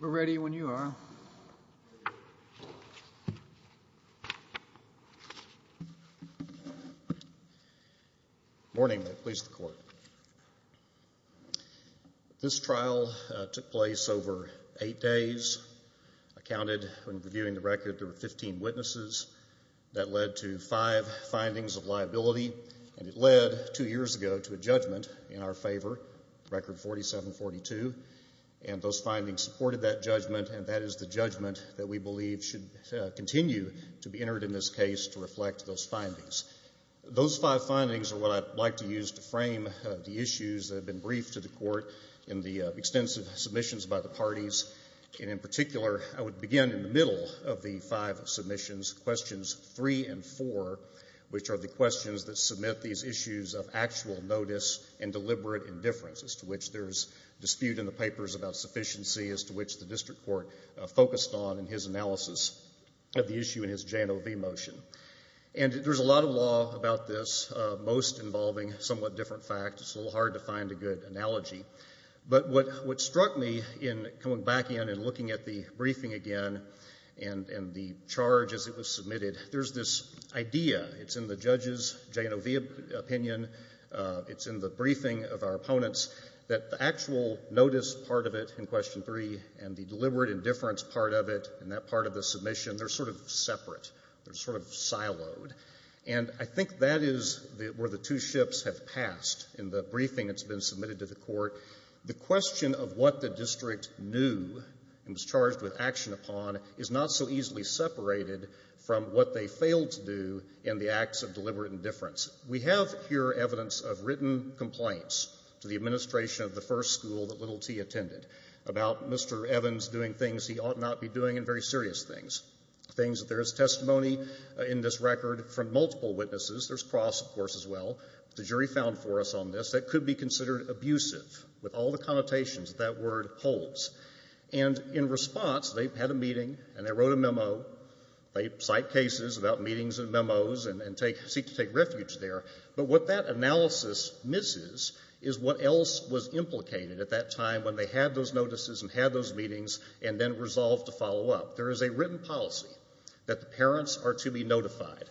We're ready when you are. This trial took place over 8 days, I counted when reviewing the record there were 15 witnesses. That led to 5 findings of liability and it led 2 years ago to a judgment in our favor, record 4742 and those findings supported that judgment and that is the judgment that we Those 5 findings are what I'd like to use to frame the issues that have been briefed to the court in the extensive submissions by the parties and in particular I would begin in the middle of the 5 submissions, questions 3 and 4 which are the questions that submit these issues of actual notice and deliberate indifference as to which there is dispute in the papers about sufficiency as to which the district court focused on in his analysis of the issue in his J&OV motion and there's a lot of law about this, most involving somewhat different facts, it's a little hard to find a good analogy but what struck me in coming back in and looking at the briefing again and the charge as it was submitted, there's this idea, it's in the judges J&OV opinion, it's in the briefing of our opponents that the actual notice part of it in question 3 and the deliberate indifference part of it in that part of the submission, they're sort of separate, they're sort of siloed and I think that is where the two ships have passed in the briefing that's been submitted to the court. The question of what the district knew and was charged with action upon is not so easily separated from what they failed to do in the acts of deliberate indifference. We have here evidence of written complaints to the administration of the first school that Little T attended about Mr. Evans doing things he ought not be doing and very serious things, things that there is testimony in this record from multiple witnesses, there's cross of course as well, the jury found for us on this, that could be considered abusive with all the connotations that that word holds and in response, they've had a meeting and they wrote a memo, they cite cases about meetings and memos and seek to take refuge there but what that analysis misses is what else was implicated at that time when they had those notices and had those meetings and then resolved to follow up. There is a written policy that the parents are to be notified.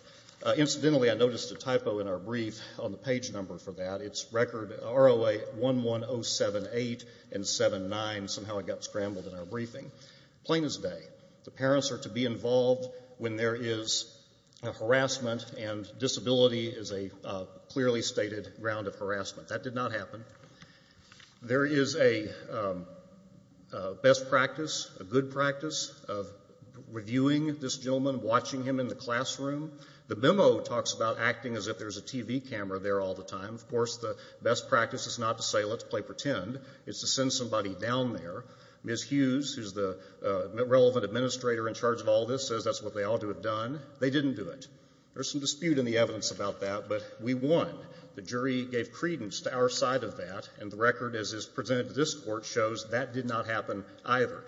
Incidentally, I noticed a typo in our brief on the page number for that, it's record ROA 11078 and 7-9, somehow it got scrambled in our briefing. Plain as day, the parents are to be involved when there is harassment and disability is a clearly stated ground of harassment. That did not happen. There is a best practice, a good practice of reviewing this gentleman, watching him in the classroom. The memo talks about acting as if there's a TV camera there all the time. Of course, the best practice is not to say, let's play pretend, it's to send somebody down there. Ms. Hughes, who's the relevant administrator in charge of all this, says that's what they ought to have done. They didn't do it. There's some dispute in the evidence about that but we won. The jury gave credence to our side of that and the record as is presented to this court shows that did not happen either.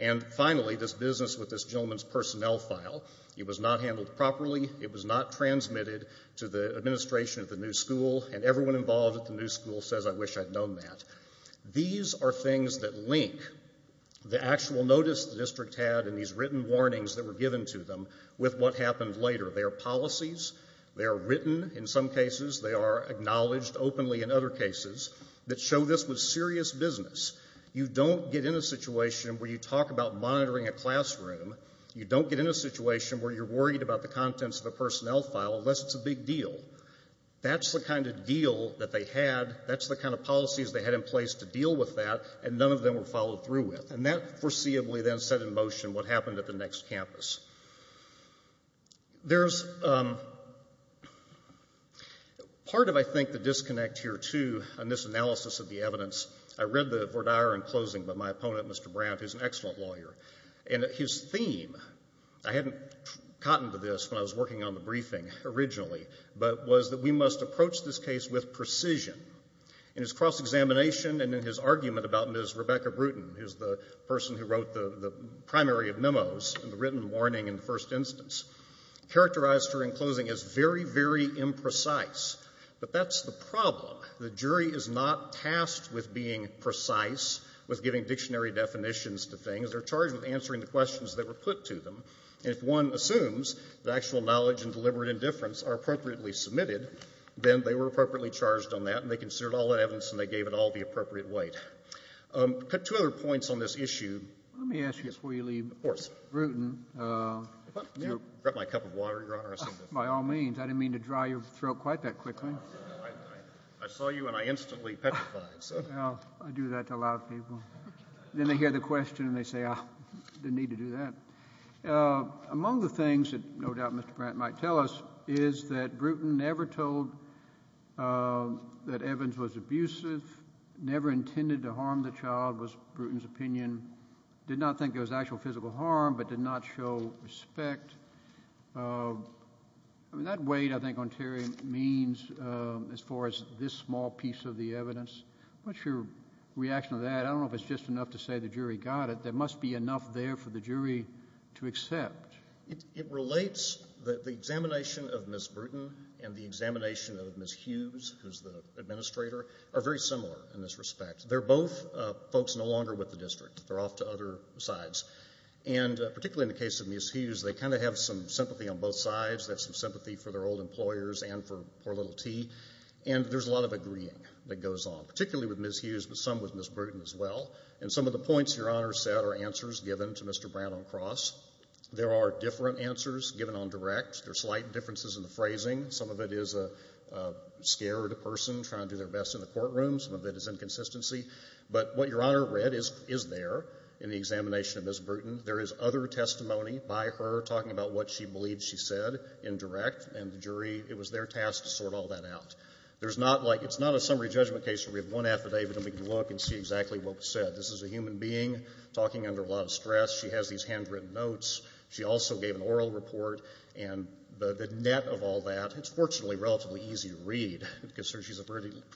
And finally, this business with this gentleman's personnel file, it was not handled properly, it was not transmitted to the administration of the new school and everyone involved at the new school says I wish I'd known that. These are things that link the actual notice the district had and these written warnings that were given to them with what happened later. They are policies, they are written in some cases, they are acknowledged openly in other cases that show this was serious business. You don't get in a situation where you talk about monitoring a classroom, you don't get in a situation where you're worried about the contents of the personnel file unless it's a big deal. That's the kind of deal that they had, that's the kind of policies they had in place to deal with that and none of them were followed through with. And that foreseeably then set in motion what happened at the next campus. There's part of, I think, the disconnect here, too, in this analysis of the evidence. I read the Verdier in closing, but my opponent, Mr. Brandt, who's an excellent lawyer, and his theme, I hadn't gotten to this when I was working on the briefing originally, but was that we must approach this case with precision. In his cross-examination and in his argument about Ms. Rebecca Bruton, who's the person who wrote the primary of memos and the written warning in the first instance, characterized her in closing as very, very imprecise. But that's the problem. The jury is not tasked with being precise, with giving dictionary definitions to things. They're charged with answering the questions that were put to them. And if one assumes that actual knowledge and deliberate indifference are appropriately submitted, then they were appropriately charged on that and they considered all that evidence and they gave it all the appropriate weight. I've got two other points on this issue. Let me ask you before you leave. Of course. Bruton. Do you want me to grab my cup of water, Your Honor? By all means. I didn't mean to dry your throat quite that quickly. I saw you and I instantly petrified. I do that to a lot of people. Then they hear the question and they say, I didn't need to do that. Among the things that no doubt Mr. Brandt might tell us is that Bruton never told that what was ever intended to harm the child was Bruton's opinion, did not think it was actual physical harm, but did not show respect. I mean, that weight, I think, on Terry means as far as this small piece of the evidence. What's your reaction to that? I don't know if it's just enough to say the jury got it. There must be enough there for the jury to accept. It relates. The examination of Ms. Bruton and the examination of Ms. Hughes, who's the They're both folks no longer with the district. They're off to other sides. And particularly in the case of Ms. Hughes, they kind of have some sympathy on both sides. They have some sympathy for their old employers and for poor little T. And there's a lot of agreeing that goes on, particularly with Ms. Hughes, but some with Ms. Bruton as well. And some of the points Your Honor said are answers given to Mr. Brandt on cross. There are different answers given on direct. There are slight differences in the phrasing. Some of it is a scared person trying to do their best in the courtroom. Some of it is inconsistency. But what Your Honor read is there in the examination of Ms. Bruton. There is other testimony by her talking about what she believes she said in direct. And the jury, it was their task to sort all that out. It's not a summary judgment case where we have one affidavit and we can look and see exactly what was said. This is a human being talking under a lot of stress. She has these handwritten notes. She also gave an oral report. And the net of all that, it's fortunately relatively easy to read. Because she has a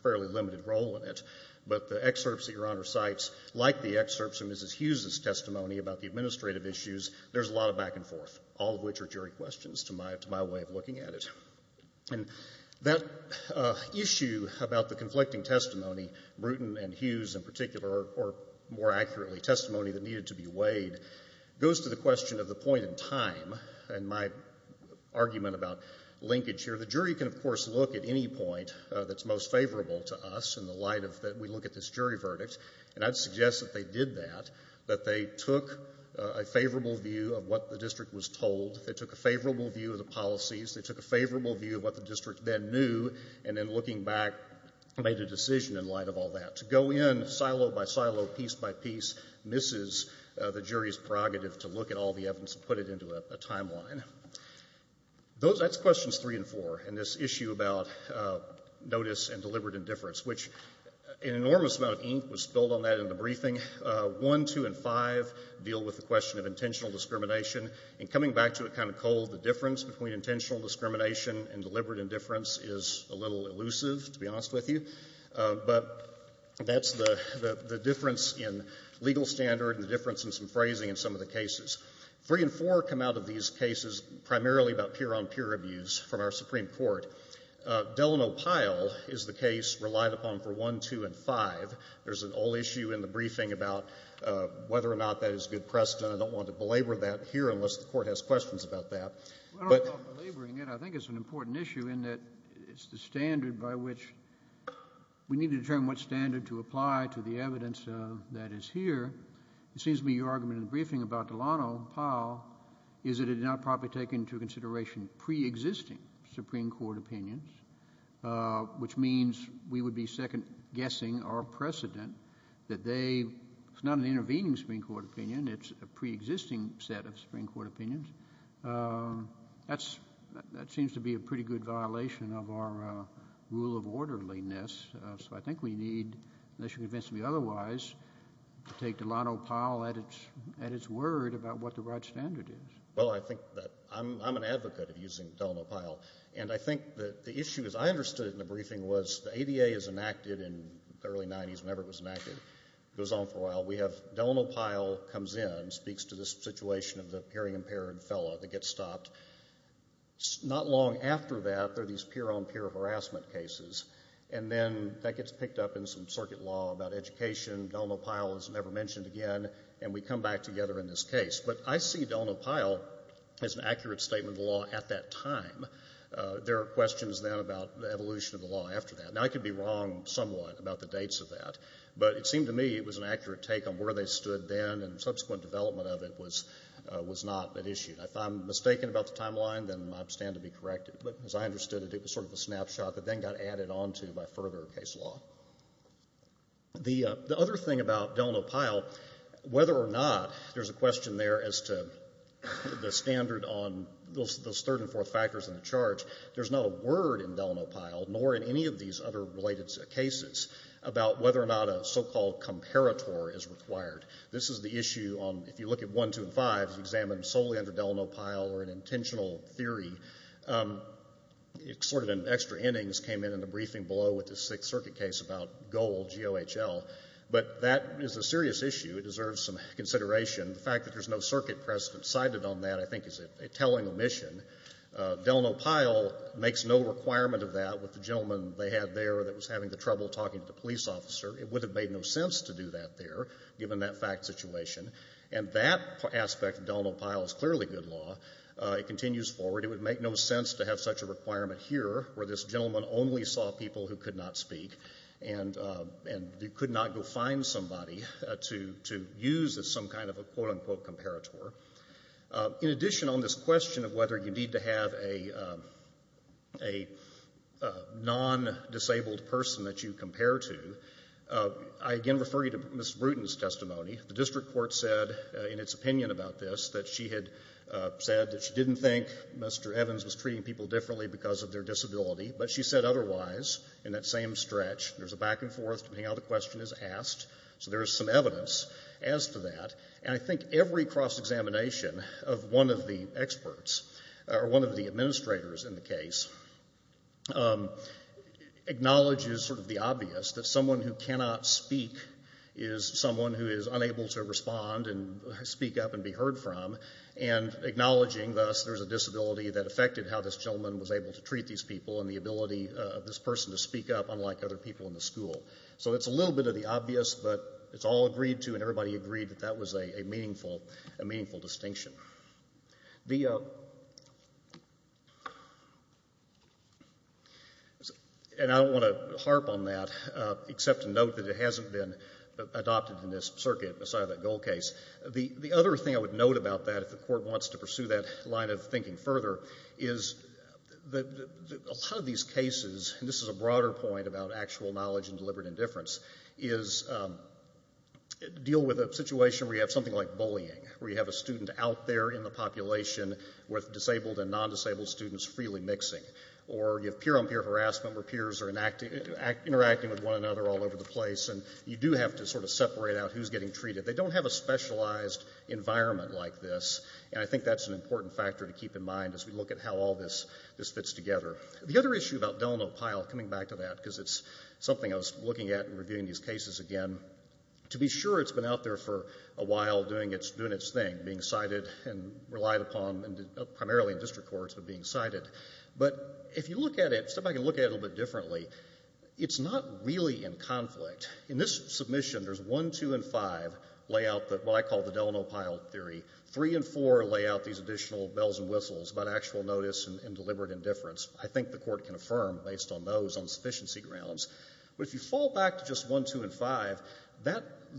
fairly limited role in it. But the excerpts that Your Honor cites, like the excerpts from Ms. Hughes' testimony about the administrative issues, there's a lot of back and forth, all of which are jury questions to my way of looking at it. And that issue about the conflicting testimony, Bruton and Hughes in particular, or more accurately, testimony that needed to be weighed, goes to the question of the point in time. And my argument about linkage here, the jury can of course look at any point that's most favorable to us in the light of that we look at this jury verdict. And I'd suggest that they did that, that they took a favorable view of what the district was told, they took a favorable view of the policies, they took a favorable view of what the district then knew, and then looking back, made a decision in light of all that. To go in silo by silo, piece by piece, misses the jury's prerogative to look at all the evidence, and put it into a timeline. That's questions three and four in this issue about notice and deliberate indifference, which an enormous amount of ink was spilled on that in the briefing. One, two, and five deal with the question of intentional discrimination. And coming back to it kind of cold, the difference between intentional discrimination and deliberate indifference is a little elusive, to be honest with you. But that's the difference in legal standard and the difference in some phrasing in some of the cases. Three and four come out of these cases primarily about peer-on-peer abuse from our Supreme Court. Delano Pyle is the case relied upon for one, two, and five. There's an old issue in the briefing about whether or not that is good precedent. I don't want to belabor that here unless the Court has questions about that. I think it's an important issue in that it's the standard by which we need to determine what standard to apply to the evidence that is here. It seems to me your argument in the briefing about Delano Pyle is that it did not properly take into consideration pre-existing Supreme Court opinions, which means we would be second-guessing our precedent that they, it's not an intervening Supreme Court opinion, it's a pre-existing set of Supreme Court opinions. That seems to be a pretty good violation of our rule of orderliness. So I think we need, unless you convince me otherwise, to take Delano Pyle at its word about what the right standard is. Well, I think that I'm an advocate of using Delano Pyle. And I think that the issue, as I understood it in the briefing, was the ADA is enacted in the early 90s, whenever it was enacted. It goes on for a while. Delano Pyle comes in and speaks to the situation of the hearing-impaired fellow that gets stopped. Not long after that, there are these peer-on-peer harassment cases. And then that gets picked up in some circuit law about education. Delano Pyle is never mentioned again. And we come back together in this case. But I see Delano Pyle as an accurate statement of the law at that time. There are questions then about the evolution of the law after that. Now, I could be wrong somewhat about the dates of that. But it seemed to me it was an accurate take on where they stood then, and subsequent development of it was not at issue. If I'm mistaken about the timeline, then I stand to be corrected. But as I understood it, it was sort of a snapshot that then got added onto by further case law. The other thing about Delano Pyle, whether or not there's a question there as to the standard on those third and fourth factors in the charge, there's not a word in Delano Pyle nor in any of these other related cases about whether or not a so-called comparator is required. This is the issue on, if you look at Delano Pyle or an intentional theory. Extra innings came in in the briefing below with the Sixth Circuit case about Gohl, G-O-H-L. But that is a serious issue. It deserves some consideration. The fact that there's no circuit precedent cited on that, I think, is a telling omission. Delano Pyle makes no requirement of that with the gentleman they had there that was having the trouble talking to the police officer. It would have made no sense to do that there, given that fact situation. And that aspect of Delano Pyle is clearly good law. It continues forward. It would make no sense to have such a requirement here where this gentleman only saw people who could not speak and could not go find somebody to use as some kind of a quote-unquote comparator. In addition on this question of whether you need to have a non-disabled person that you compare to, I again refer you to Ms. Bruton's testimony. The district court said in its opinion about this that she had said that she didn't think Mr. Evans was treating people differently because of their disability. But she said otherwise in that same stretch. There's a back and forth depending on how the question is asked. So there is some evidence as to that. And I think every cross-examination of one of the experts or one of the administrators in the case acknowledges sort of the obvious that someone who is unable to respond and speak up and be heard from and acknowledging thus there's a disability that affected how this gentleman was able to treat these people and the ability of this person to speak up unlike other people in the school. So it's a little bit of the obvious, but it's all agreed to and everybody agreed that that was a meaningful distinction. And I don't want to harp on that except to note that it hasn't been adopted in this circuit aside of that goal case. The other thing I would note about that if the court wants to pursue that line of thinking further is that a lot of these cases, and this is a broader point about actual knowledge and deliberate indifference, is deal with a situation where you have something like bullying, where you have a student out there in the population with disabled and non-disabled students freely mixing. Or you have peer-on-peer harassment where peers are in place and you do have to sort of separate out who's getting treated. They don't have a specialized environment like this, and I think that's an important factor to keep in mind as we look at how all this fits together. The other issue about Delano Pyle coming back to that, because it's something I was looking at in reviewing these cases again, to be sure it's been out there for a while doing its thing, being cited and relied upon primarily in district courts, but being cited. But if you look at it, step back and look at it a little bit differently, it's not really in conflict. In this submission, there's 1, 2, and 5 lay out what I call the Delano Pyle theory. 3 and 4 lay out these additional bells and whistles about actual notice and deliberate indifference. I think the court can affirm based on those on sufficiency grounds. But if you fall back to just 1, 2, and 5,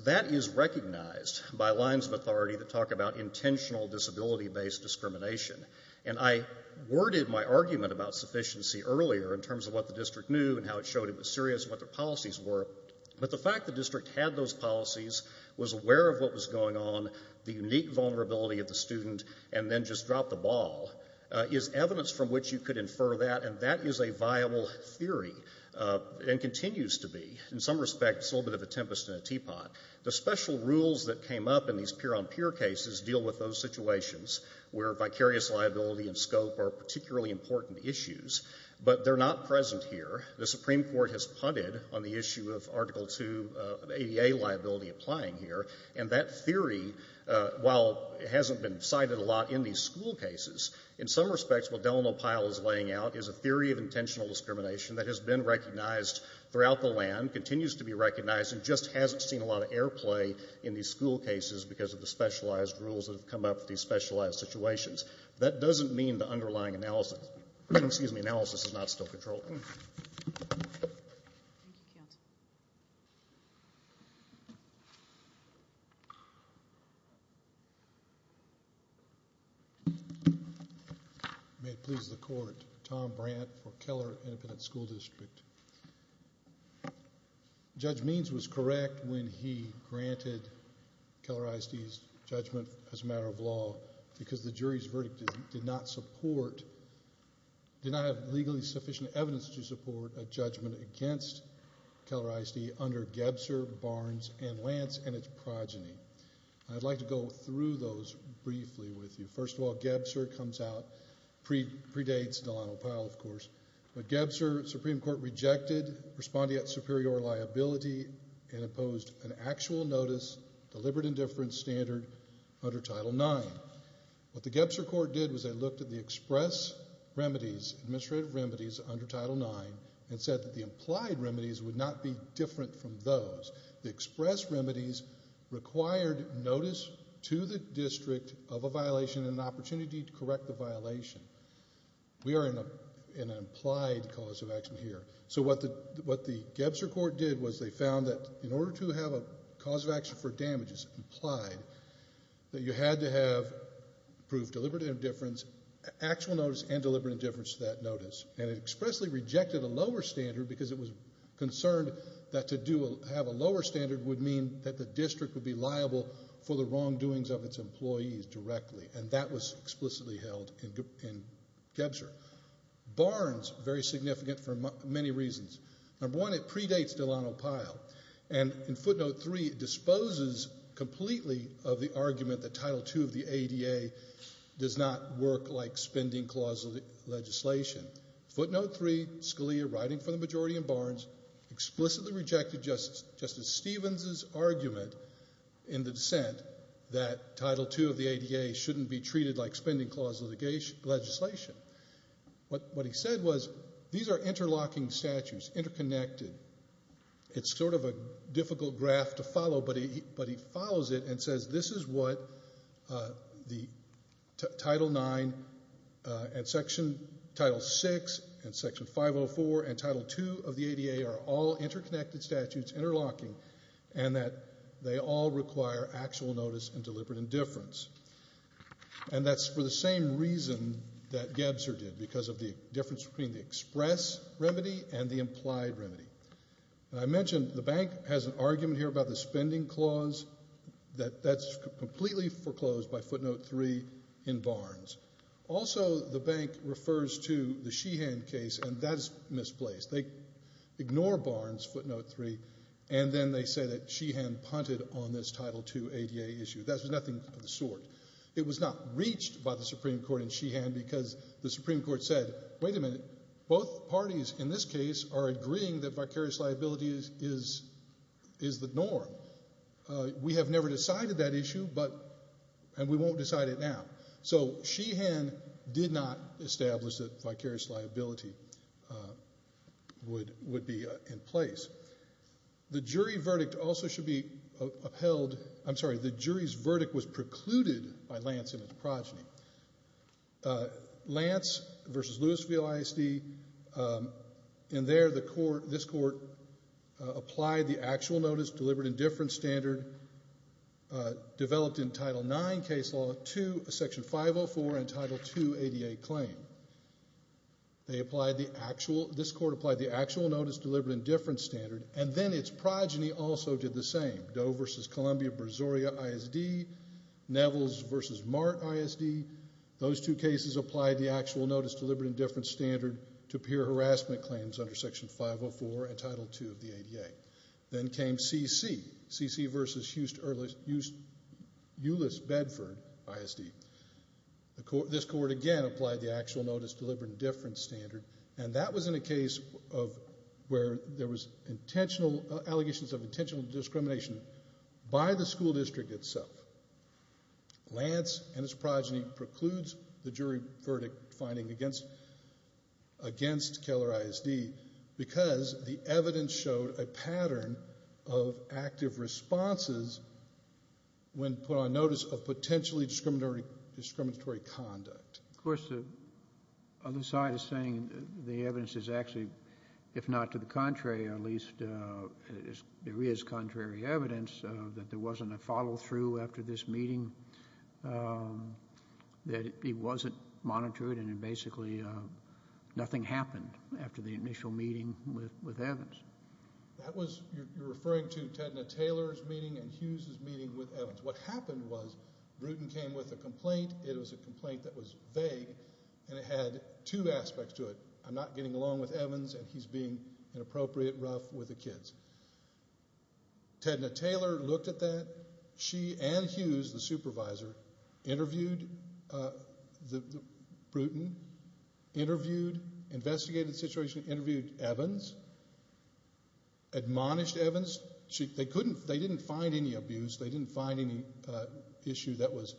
that is recognized by lines of authority that talk about intentional disability-based discrimination. And I worded my argument about sufficiency earlier in terms of what the district knew and how it showed it was serious and what their policies were. But the fact the district had those policies, was aware of what was going on, the unique vulnerability of the student, and then just dropped the ball is evidence from which you could infer that. And that is a viable theory and continues to be. In some respects, it's a little bit of a tempest in a teapot. The special rules that came up in these peer-on-peer cases deal with those situations where vicarious liability and scope are particularly important issues. But they're not present here. The Supreme Court has punted on the issue of Article 2 of ADA liability applying here. And that theory, while it hasn't been cited a lot in these school cases, in some respects what Delano Pyle is laying out is a theory of intentional discrimination that has been recognized throughout the land, continues to be recognized, and just hasn't seen a lot of airplay in these school cases because of the specialized rules that have come up for these specialized situations. That doesn't mean the underlying analysis is not still controllable. May it please the Court. Tom Brandt for Keller Independent School District. Judge Means was correct when he granted Keller ISD's judgment as a matter of law because the jury's verdict did not support did not have legally sufficient evidence to support a judgment against Keller ISD under Gebser, Barnes, and Lance and its progeny. I'd like to go through those briefly with you. First of all, Gebser comes out, predates Delano Pyle, of course. But Gebser, Supreme Court rejected, responding at superior liability and opposed an actual notice, deliberate indifference standard under Title IX. What the Gebser court did was they looked at the express remedies, administrative remedies under Title IX and said that the implied remedies would not be different from those. The express remedies required notice to the district of a violation and an opportunity to correct the violation. We are in an implied cause of action here. So what the Gebser court did was they found that in order to have a implied, that you had to have proved deliberate indifference, actual notice, and deliberate indifference to that notice. And it expressly rejected a lower standard because it was concerned that to have a lower standard would mean that the district would be liable for the wrongdoings of its employees directly. And that was explicitly held in Gebser. Barnes, very significant for many reasons. Number one, it predates Delano Pyle. And in footnote three, he disposes completely of the argument that Title II of the ADA does not work like spending clause legislation. Footnote three, Scalia, writing for the majority in Barnes, explicitly rejected Justice Stevens' argument in the dissent that Title II of the ADA shouldn't be treated like spending clause legislation. What he said was these are interlocking statutes, interconnected. It's sort of a difficult graph to follow, but he follows it and says this is what the Title IX and Section, Title VI and Section 504 and Title II of the ADA are all interconnected statutes, interlocking, and that they all require actual notice and deliberate indifference. And that's for the same reason remedy and the implied remedy. And I mentioned the bank has an argument here about the spending clause. That's completely foreclosed by footnote three in Barnes. Also, the bank refers to the Sheehan case, and that is misplaced. They ignore Barnes, footnote three, and then they say that Sheehan punted on this Title II ADA issue. That was nothing of the sort. It was not reached by the Supreme Court in Sheehan because the Supreme Court said wait a minute, both parties in this case are agreeing that vicarious liability is the norm. We have never decided that issue, and we won't decide it now. So Sheehan did not establish that vicarious liability would be in place. The jury's verdict was precluded by Lance and his progeny. Lance v. Louisville ISD in there, this court applied the actual notice, deliberate indifference standard developed in Title IX case law to Section 504 and Title II ADA claim. This court applied the actual notice, deliberate indifference standard, and then its progeny also did the same. Doe v. Columbia Brazoria ISD, Nevels v. Mart ISD, those two cases applied the actual notice, deliberate indifference standard to peer harassment claims under Section 504 and Title II of the ADA. Then came CC v. Euless Bedford ISD. This court again applied the actual notice, deliberate indifference standard, and that was in a case where there was allegations of intentional discrimination by the school district itself. Lance and his progeny precludes the jury verdict finding against Keller ISD because the evidence showed a pattern of active responses when put on notice of potentially discriminatory conduct. Of course, the other side is saying the evidence is actually, if not to the contrary, at least there is contrary evidence that there wasn't a follow-through after this meeting, that it wasn't monitored and basically nothing happened after the initial meeting with Evans. That was, you're referring to Tedna Taylor's meeting and Hughes' meeting with Evans. What happened was Bruton came with a complaint. It was a complaint that was vague and it had two aspects to it. I'm not getting along with Evans and he's being inappropriate, rough with the kids. Tedna Taylor looked at that. She and Hughes, the supervisor, interviewed Bruton, interviewed, investigated the situation, interviewed Evans, admonished Evans. They didn't find any abuse. They didn't find any issue that was,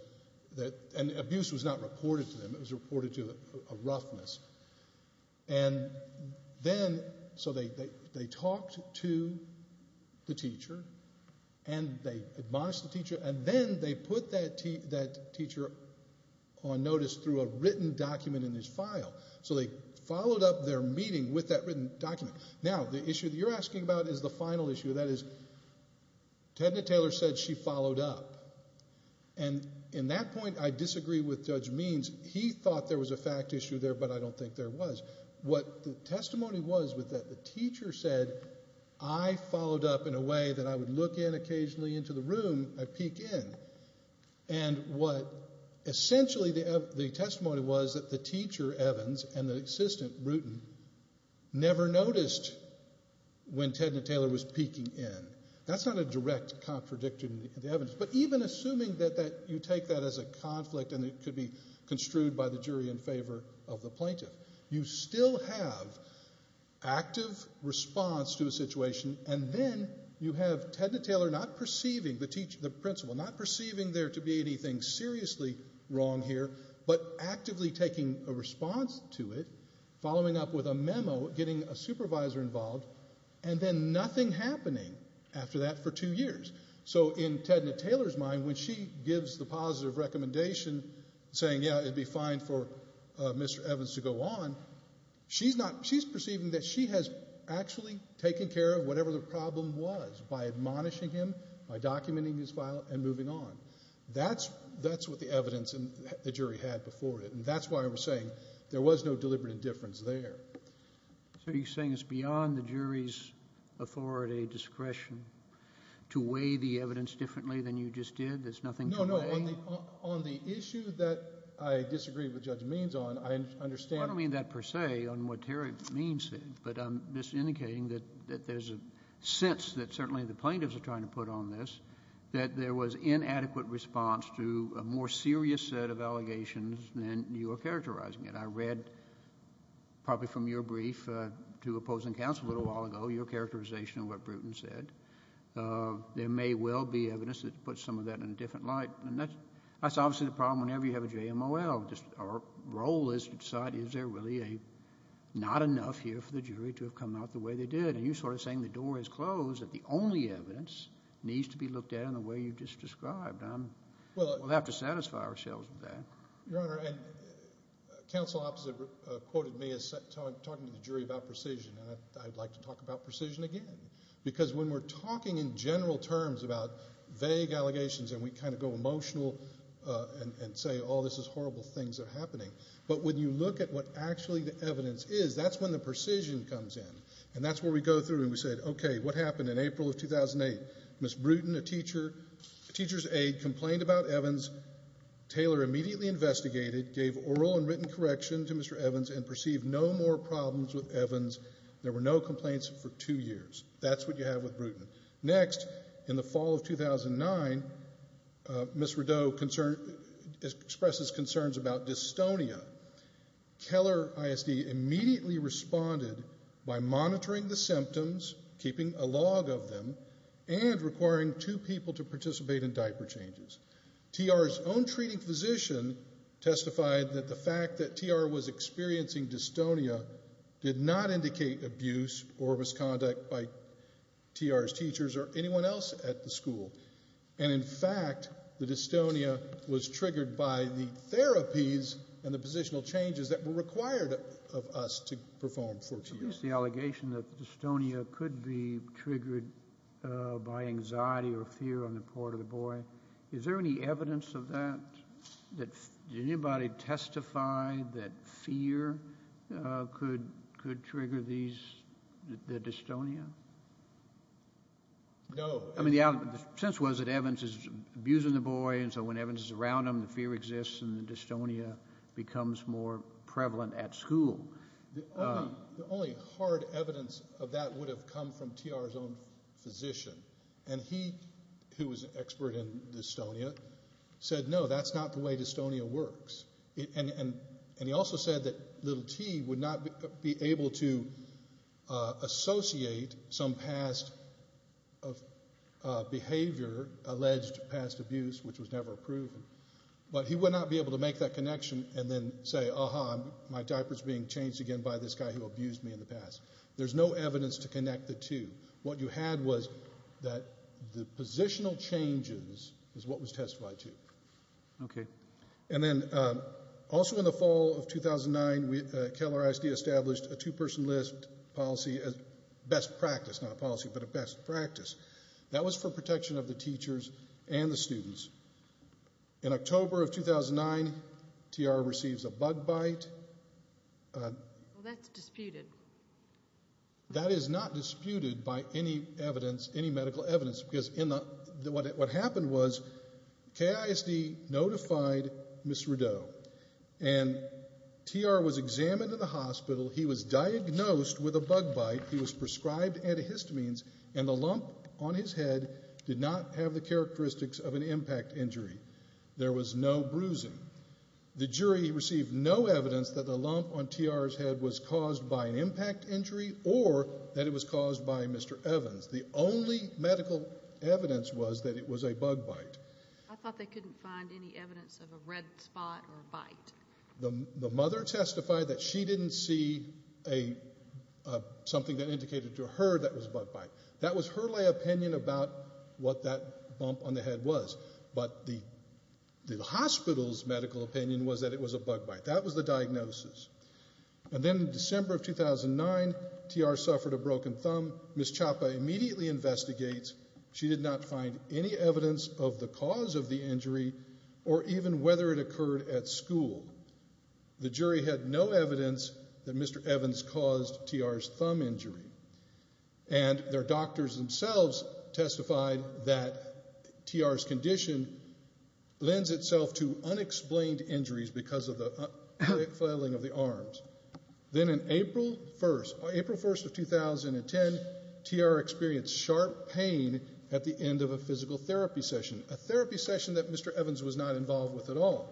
and abuse was not reported to them. It was reported to a roughness. And then, so they talked to the teacher and they admonished the teacher and then they put that teacher on notice through a written document in his file. So they followed up their meeting with that written document. Now, the issue that you're asking about is the final issue. That is, Tedna Taylor said she followed up. And in that point, I disagree with Judge Means. He thought there was a fact issue there, but I don't think there was. What the testimony was was that the teacher said, I followed up in a way that I would look in occasionally into the room, I'd peek in. And what essentially the testimony was that the teacher Evans and the assistant Bruton never noticed when Tedna Taylor was peeking in. That's not a direct contradiction of the evidence. But even assuming that you take that as a jury in favor of the plaintiff, you still have active response to a situation and then you have Tedna Taylor not perceiving the principal, not perceiving there to be anything seriously wrong here, but actively taking a response to it, following up with a memo, getting a supervisor involved, and then nothing happening after that for two years. So in Tedna Taylor's mind, when she gives the positive recommendation saying, yeah, it'd be fine for Mr. Evans to go on, she's perceiving that she has actually taken care of whatever the problem was by admonishing him, by documenting his file, and moving on. That's what the evidence the jury had before it. And that's why I was saying there was no deliberate indifference there. So you're saying it's beyond the jury's authority, discretion, to weigh the evidence differently than you just did? There's nothing to weigh? No, no. On the issue that I disagree with Judge Means on, I understand... I don't mean that per se, on what Terry Means said, but I'm just indicating that there's a sense that certainly the plaintiffs are trying to put on this, that there was inadequate response to a more serious set of allegations than you are characterizing it. I read probably from your brief to opposing counsel a little while ago your characterization of what Bruton said. There may well be evidence that puts some of that in a different light. And that's obviously the problem whenever you have a JMOL. Our role is to decide is there really not enough here for the jury to have come out the way they did? And you're sort of saying the door is closed, that the only evidence needs to be looked at in the way you just described. We'll have to satisfy ourselves with that. Your Honor, counsel opposite quoted me as talking to the jury about precision, and I'd like to talk about precision again. Because when we're talking about vague allegations and we kind of go emotional and say all this is horrible things are happening. But when you look at what actually the evidence is, that's when the precision comes in. And that's where we go through and we say okay, what happened in April of 2008? Ms. Bruton, a teacher, a teacher's aide, complained about Evans. Taylor immediately investigated, gave oral and written correction to Mr. Evans, and perceived no more problems with Evans. There were no complaints for two years. That's what you have with Bruton. Next, in the fall of 2009, Ms. Rideau expressed concerns about dystonia. Keller ISD immediately responded by monitoring the symptoms, keeping a log of them, and requiring two people to participate in diaper changes. TR's own treating physician testified that the fact that TR was experiencing dystonia did not indicate abuse or misconduct by TR's teachers or anyone else at the school. And in fact, the dystonia was triggered by the therapies and the positional changes that were required of us to perform for two years. So there's the allegation that dystonia could be triggered by anxiety or fear on the part of the boy. Is there any evidence of that? Did anybody testify that fear could trigger the dystonia? No. I mean, the sense was that Evans is abusing the boy, and so when Evans is around him, the fear exists and the dystonia becomes more prevalent at school. The only hard evidence of that would have come from TR's own physician. And he, who was an expert in dystonia, said, no, that's not the way dystonia works. And he also said that little T would not be able to associate some past behavior, alleged past abuse, which was never proven. But he would not be able to make that connection and then say, aha, my diaper's being changed again by this guy who abused me in the past. There's no evidence to connect the two. What you had was that the positional changes is what was testified to. And then also in the October of 2009, KISD established a two-person list policy, a best practice, not a policy, but a best practice. That was for protection of the teachers and the students. In October of 2009, TR receives a bug bite. Well, that's disputed. That is not disputed by any evidence, any medical evidence, because what happened was KISD notified Ms. Rideau, and TR was examined in the hospital. He was diagnosed with a bug bite. He was prescribed antihistamines, and the lump on his head did not have the characteristics of an impact injury. There was no bruising. The jury received no evidence that the lump on TR's head was caused by an impact injury or that it was caused by Mr. Evans. The only medical evidence was that it was a bug bite. I thought they couldn't find any evidence of a red spot or something that indicated to her that it was a bug bite. That was her lay opinion about what that bump on the head was. But the hospital's medical opinion was that it was a bug bite. That was the diagnosis. And then in December of 2009, TR suffered a broken thumb. Ms. Chapa immediately investigates. She did not find any evidence of the cause of the injury or even whether it occurred at school. The jury had no evidence that Mr. Evans caused TR's thumb injury. And their doctors themselves testified that TR's condition lends itself to unexplained injuries because of the quick flailing of the arms. Then on April 1st of 2010, TR experienced sharp pain at the end of a physical therapy session, a therapy session that Mr. Evans was not involved with at all.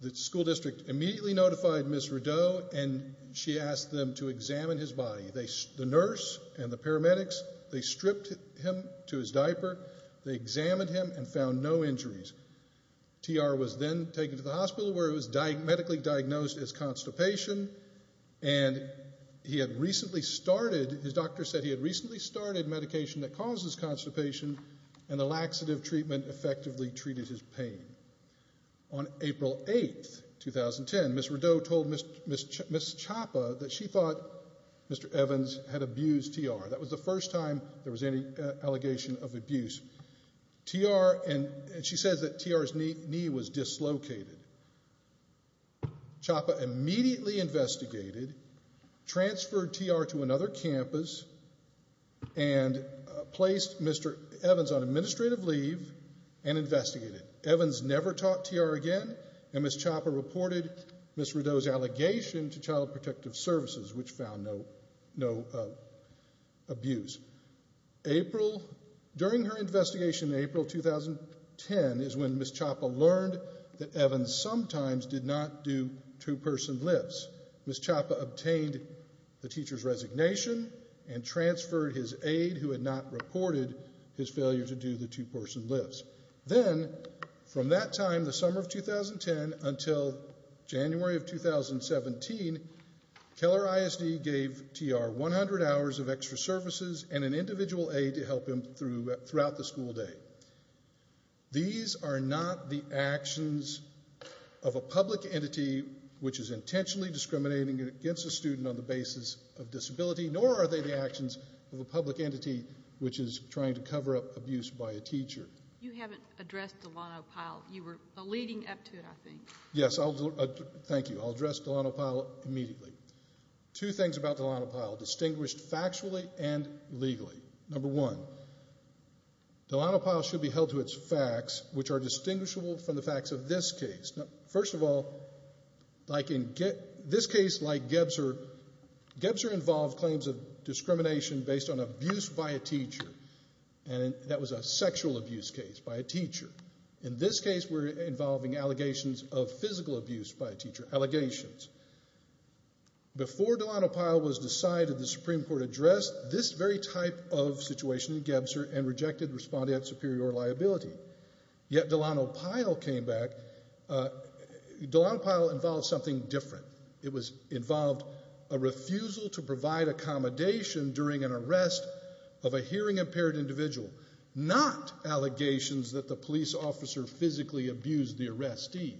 The school district immediately notified Ms. Rideau and she asked them to examine his body. The nurse and the paramedics, they stripped him to his diaper. They examined him and found no injuries. TR was then taken to the hospital where he was medically diagnosed as constipation and he had recently started, his doctor said he had recently started medication that causes constipation and the laxative treatment effectively treated his pain. On April 8th 2010, Ms. Rideau told Ms. Chapa that she thought Mr. Evans had abused TR. That was the first time there was any allegation of abuse. TR, and she says that TR's knee was dislocated. Chapa immediately investigated, transferred TR to another campus and placed Mr. Evans on protective leave and investigated. Evans never taught TR again and Ms. Chapa reported Ms. Rideau's allegation to Child Protective Services which found no abuse. April, during her investigation in April 2010 is when Ms. Chapa learned that Evans sometimes did not do two person lifts. Ms. Chapa obtained the teacher's resignation and transferred his aide who had not reported his failure to do the two person lifts. Then, from that time, the summer of 2010 until January of 2017 Keller ISD gave TR 100 hours of extra services and an individual aide to help him throughout the school day. These are not the actions of a public entity which is intentionally discriminating against a student on the basis of disability, nor are they the actions of a public entity which is trying to cover up abuse by a teacher. You haven't addressed Delano Pyle. You were leading up to it, I think. Yes, thank you. I'll address Delano Pyle immediately. Two things about Delano Pyle distinguished factually and legally. Number one, Delano Pyle should be held to its facts which are distinguishable from the facts of this case. First of all, this case, like Gebser, Gebser involved claims of discrimination based on abuse by a teacher. That was a sexual abuse case by a teacher. In this case, we're involving allegations of physical abuse by a teacher. Allegations. Before Delano Pyle was decided, the Supreme Court addressed this very type of situation in Gebser and rejected responding at superior liability. Yet Delano Pyle came back. Delano Pyle involved something different. It involved a refusal to provide accommodation during an arrest of a hearing impaired individual, not allegations that the police officer physically abused the arrestee.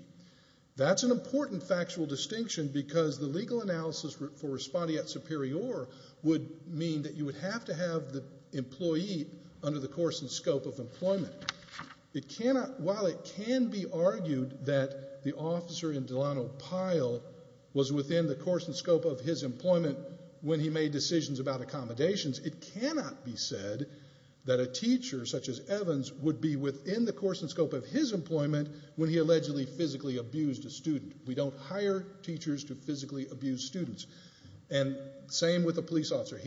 That's an important factual distinction because the legal analysis for responding at superior would mean that you would have to have the employee under the course and scope of employment. While it can be argued that the officer in Delano Pyle was within the course and scope of his employment when he made decisions about accommodations, it cannot be said that a teacher such as Evans would be within the course and scope of his employment when he allegedly physically abused a student. We don't hire teachers to physically abuse students. Same with the police officer.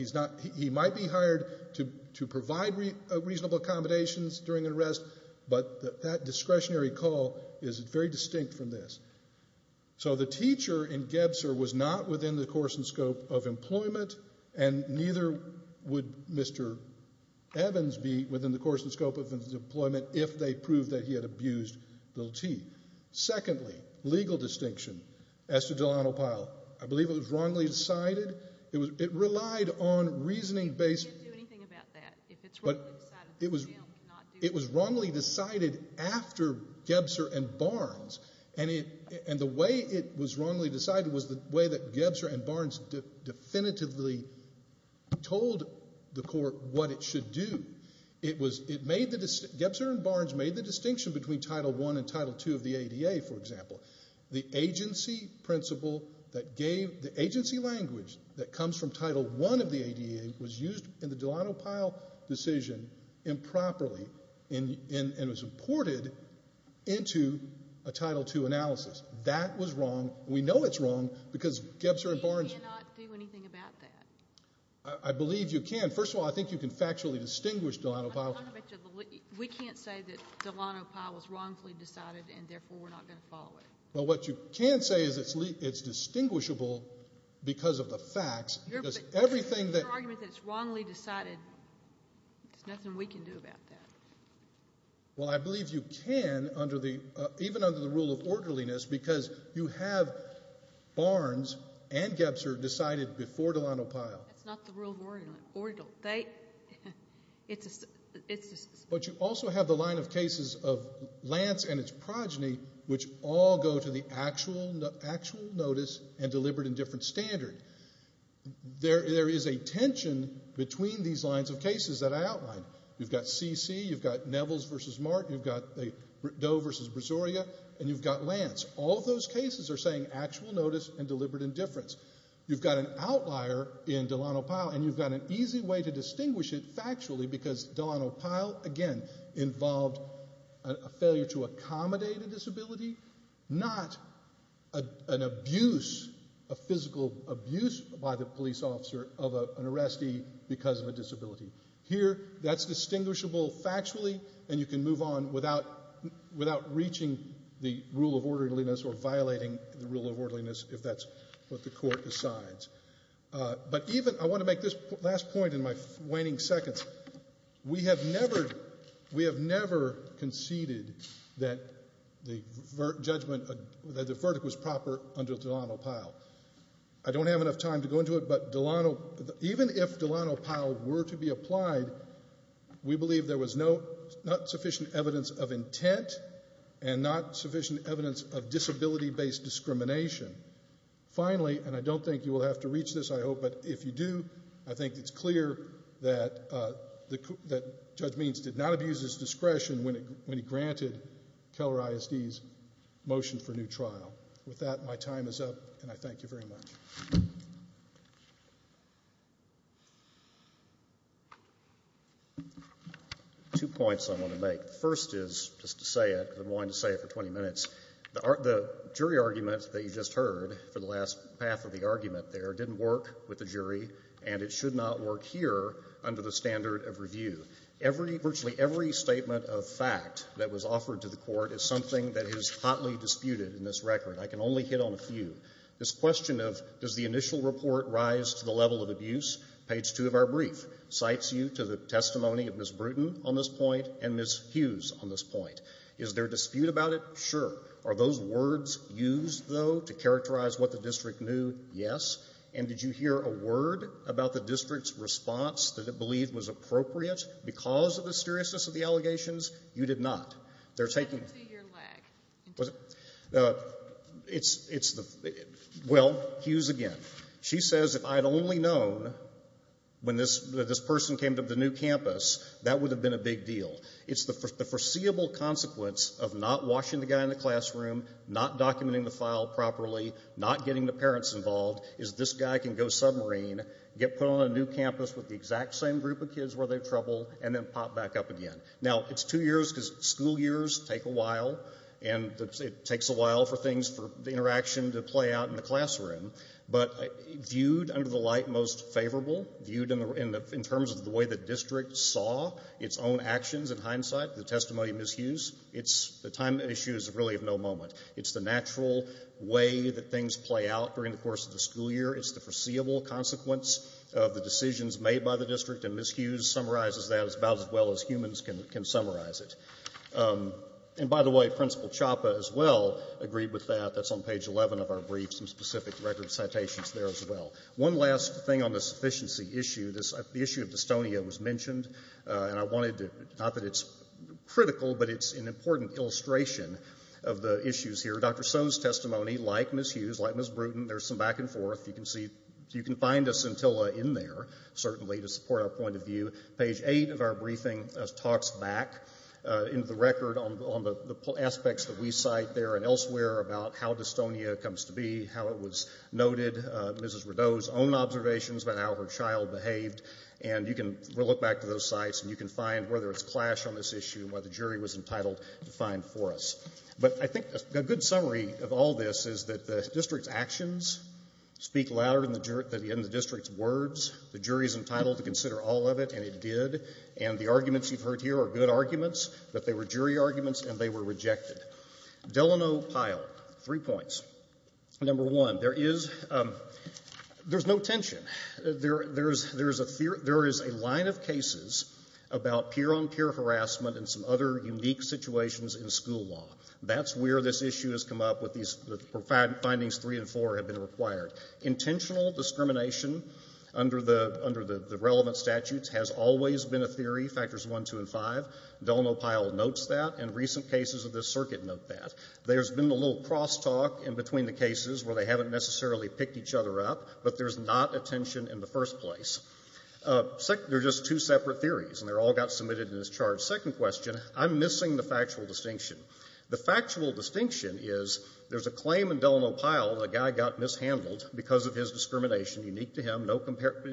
He might be hired to provide reasonable accommodations during an arrest, but that discretionary call is very distinct from this. So the teacher in Gebser was not within the course and scope of employment, and neither would Mr. Evans be within the course and scope of his employment if they proved that he had abused Bill T. Secondly, legal distinction as to Delano Pyle. I believe it was wrongly decided. It relied on reasoning based... But it was wrongly decided after Gebser and Barnes, and the way it was wrongly decided was the way that Gebser and Barnes definitively told the court what it should do. Gebser and Barnes made the distinction between Title I and Title II of the ADA, for example. The agency principle that gave...the agency language that comes from Title I of the ADA was used in the Delano Pyle decision improperly and was imported into a Title II analysis. That was wrong. We know it's wrong because Gebser and Barnes... We cannot do anything about that. I believe you can. First of all, I think you can factually distinguish Delano Pyle. We can't say that Delano Pyle was wrongfully decided and therefore we're not going to follow it. Well, what you can say is it's distinguishable because of the facts because everything that... Your argument that it's wrongly decided, there's nothing we can do about that. Well, I believe you can even under the rule of orderliness because you have Barnes and Gebser decided before Delano Pyle. That's not the rule of order. But you also have the line of cases of Lance and its progeny, which all go to the actual notice and delivered in different standard. There is a tension between these lines of cases that I outlined. You've got CC, you've got Nevels versus Mark, you've got Doe versus Brasoria, and you've got Lance. All of those cases are saying actual notice and deliberate indifference. You've got an outlier in Delano Pyle and you've got an easy way to distinguish it factually because Delano Pyle, again, involved a failure to accommodate a disability, not an abuse, a physical abuse by the police officer of an arrestee because of a disability. Here, that's distinguishable factually and you can move on without reaching the rule of orderliness or violating the rule of orderliness if that's what the court decides. I want to make this last point in my waning seconds. We have never conceded that the verdict was proper under Delano Pyle. I don't have enough time to go into it, but even if Delano Pyle were to be applied, we believe there was not sufficient evidence of intent and not sufficient evidence of disability-based discrimination. Finally, and I don't think you will have to reach this, I hope, but if you do, I think it's clear that Judge Means did not abuse his discretion when he granted Keller ISD's motion for new trial. With that, my time is up and I thank you very much. Two points I want to make. The first is, just to say it because I've been wanting to say it for 20 minutes, the jury argument that you just heard for the last half of the argument there didn't work with the jury and it should not work here under the standard of review. Virtually every statement of fact that was offered to the court is something that is hotly disputed in this record. I can only hit on a few. This question of, does the initial report rise to the level of abuse? Page 2 of our brief cites you to the testimony of Ms. Bruton on this point and Ms. Hughes on this point. Is there a dispute about it? Sure. Are those words used, though, to characterize what the district knew? Yes. And did you hear a word about the district's response that it believed was appropriate because of the seriousness of the allegations? You did not. They're taking... Well, Hughes again. She says, if I'd only known when this person came to the new campus that would have been a big deal. It's the foreseeable consequence of not washing the guy in the classroom, not documenting the file properly, not getting the parents involved, is this guy can go submarine, get put on a new campus with the exact same group of kids where they have trouble, and then pop back up again. Now, it's two years because school years take a while, and it takes a while for things, for the interaction to play out in the classroom, but viewed under the light most favorable, viewed in terms of the way the district saw its own actions in hindsight, the testimony of Ms. Hughes, the time issue is really of no moment. It's the natural way that things play out during the course of the school year. It's the foreseeable consequence of the decisions made by the district, and Ms. Hughes summarizes that about as well as humans can summarize it. And by the way, Principal Chapa as well agreed with that. That's on page 11 of our brief, some specific record citations there as well. One last thing on this sufficiency issue. The issue of dystonia was mentioned, and I wanted to... Not that it's critical, but it's an important illustration of the issues here. Dr. Sohn's testimony, like Ms. Hughes, like Ms. Bruton, there's some back and forth. You can find a scintilla in there certainly to support our point of view. Page 8 of our briefing talks back into the record on the aspects that we cite there and elsewhere about how dystonia comes to be, how it was noted, Mrs. Rideau's own observations about how her child behaved, and you can look back to those sites and you can find whether it's clash on this issue, whether the jury was entitled to find for us. But I think a good summary of all this is that the district's actions speak louder than the district's words. The jury's entitled to consider all of it, and it did. And the arguments you've heard here are good arguments, but they were jury arguments and they were rejected. Delano Pyle, three points. Number one, there is no tension. There is a line of cases about peer-on-peer harassment and some other unique situations in school law. That's where this issue has come up with these findings three and four have been required. Intentional discrimination under the relevant statutes has always been a theory, Factors I, II, and V. Delano Pyle notes that, and recent cases of this circuit note that. There's been a little crosstalk in between the cases where they haven't necessarily picked each other up, but there's not a tension in the first place. There are just two separate theories, and they all got submitted in this charge. Second question, I'm missing the factual distinction. The factual distinction is there's a claim in Delano Pyle's handling because of his discrimination, unique to him, no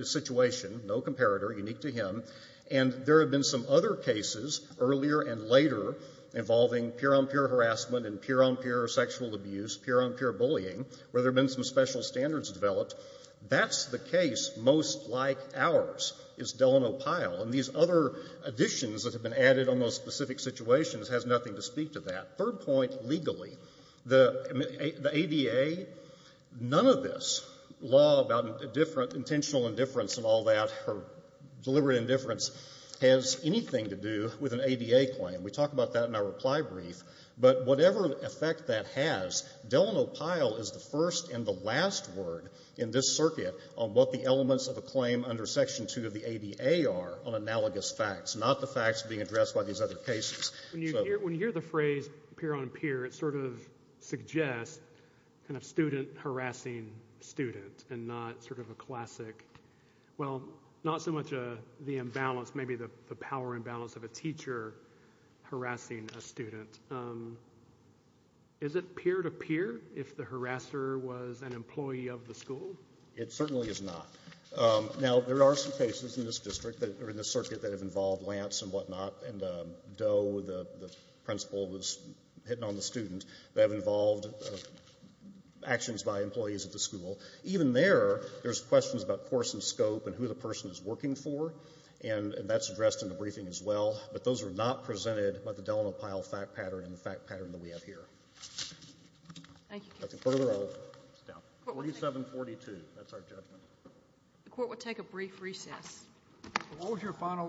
situation, no comparator, unique to him. And there have been some other cases earlier and later involving peer-on-peer harassment and peer-on-peer sexual abuse, peer-on-peer bullying, where there have been some special standards developed. That's the case most like ours, is Delano Pyle. And these other additions that have been added on those specific situations has nothing to speak to that. Third point, legally. The ADA, none of this law about intentional indifference and all that or deliberate indifference has anything to do with an ADA claim. We talk about that in our reply brief. But whatever effect that has, Delano Pyle is the first and the last word in this circuit on what the elements of a claim under Section II of the ADA are on analogous facts, not the facts being addressed by these other cases. When you hear the phrase peer-on-peer, it sort of suggests a student harassing a student and not sort of a classic, well, not so much the imbalance, maybe the power imbalance of a teacher harassing a student. Is it peer-to-peer if the harasser was an employee of the school? It certainly is not. Now, there are some cases in this circuit that have involved Lance and whatnot, and Doe, the principal, was hitting on the student, that have involved actions by employees of the school. Even there, there's questions about course and scope and who the person is working for, and that's addressed in the briefing as well. But those are not presented by the Delano Pyle fact pattern and the fact pattern that we have here. Thank you, counsel. That's a further order. 4742. That's our judgment. The Court will take a brief recess. Close your final.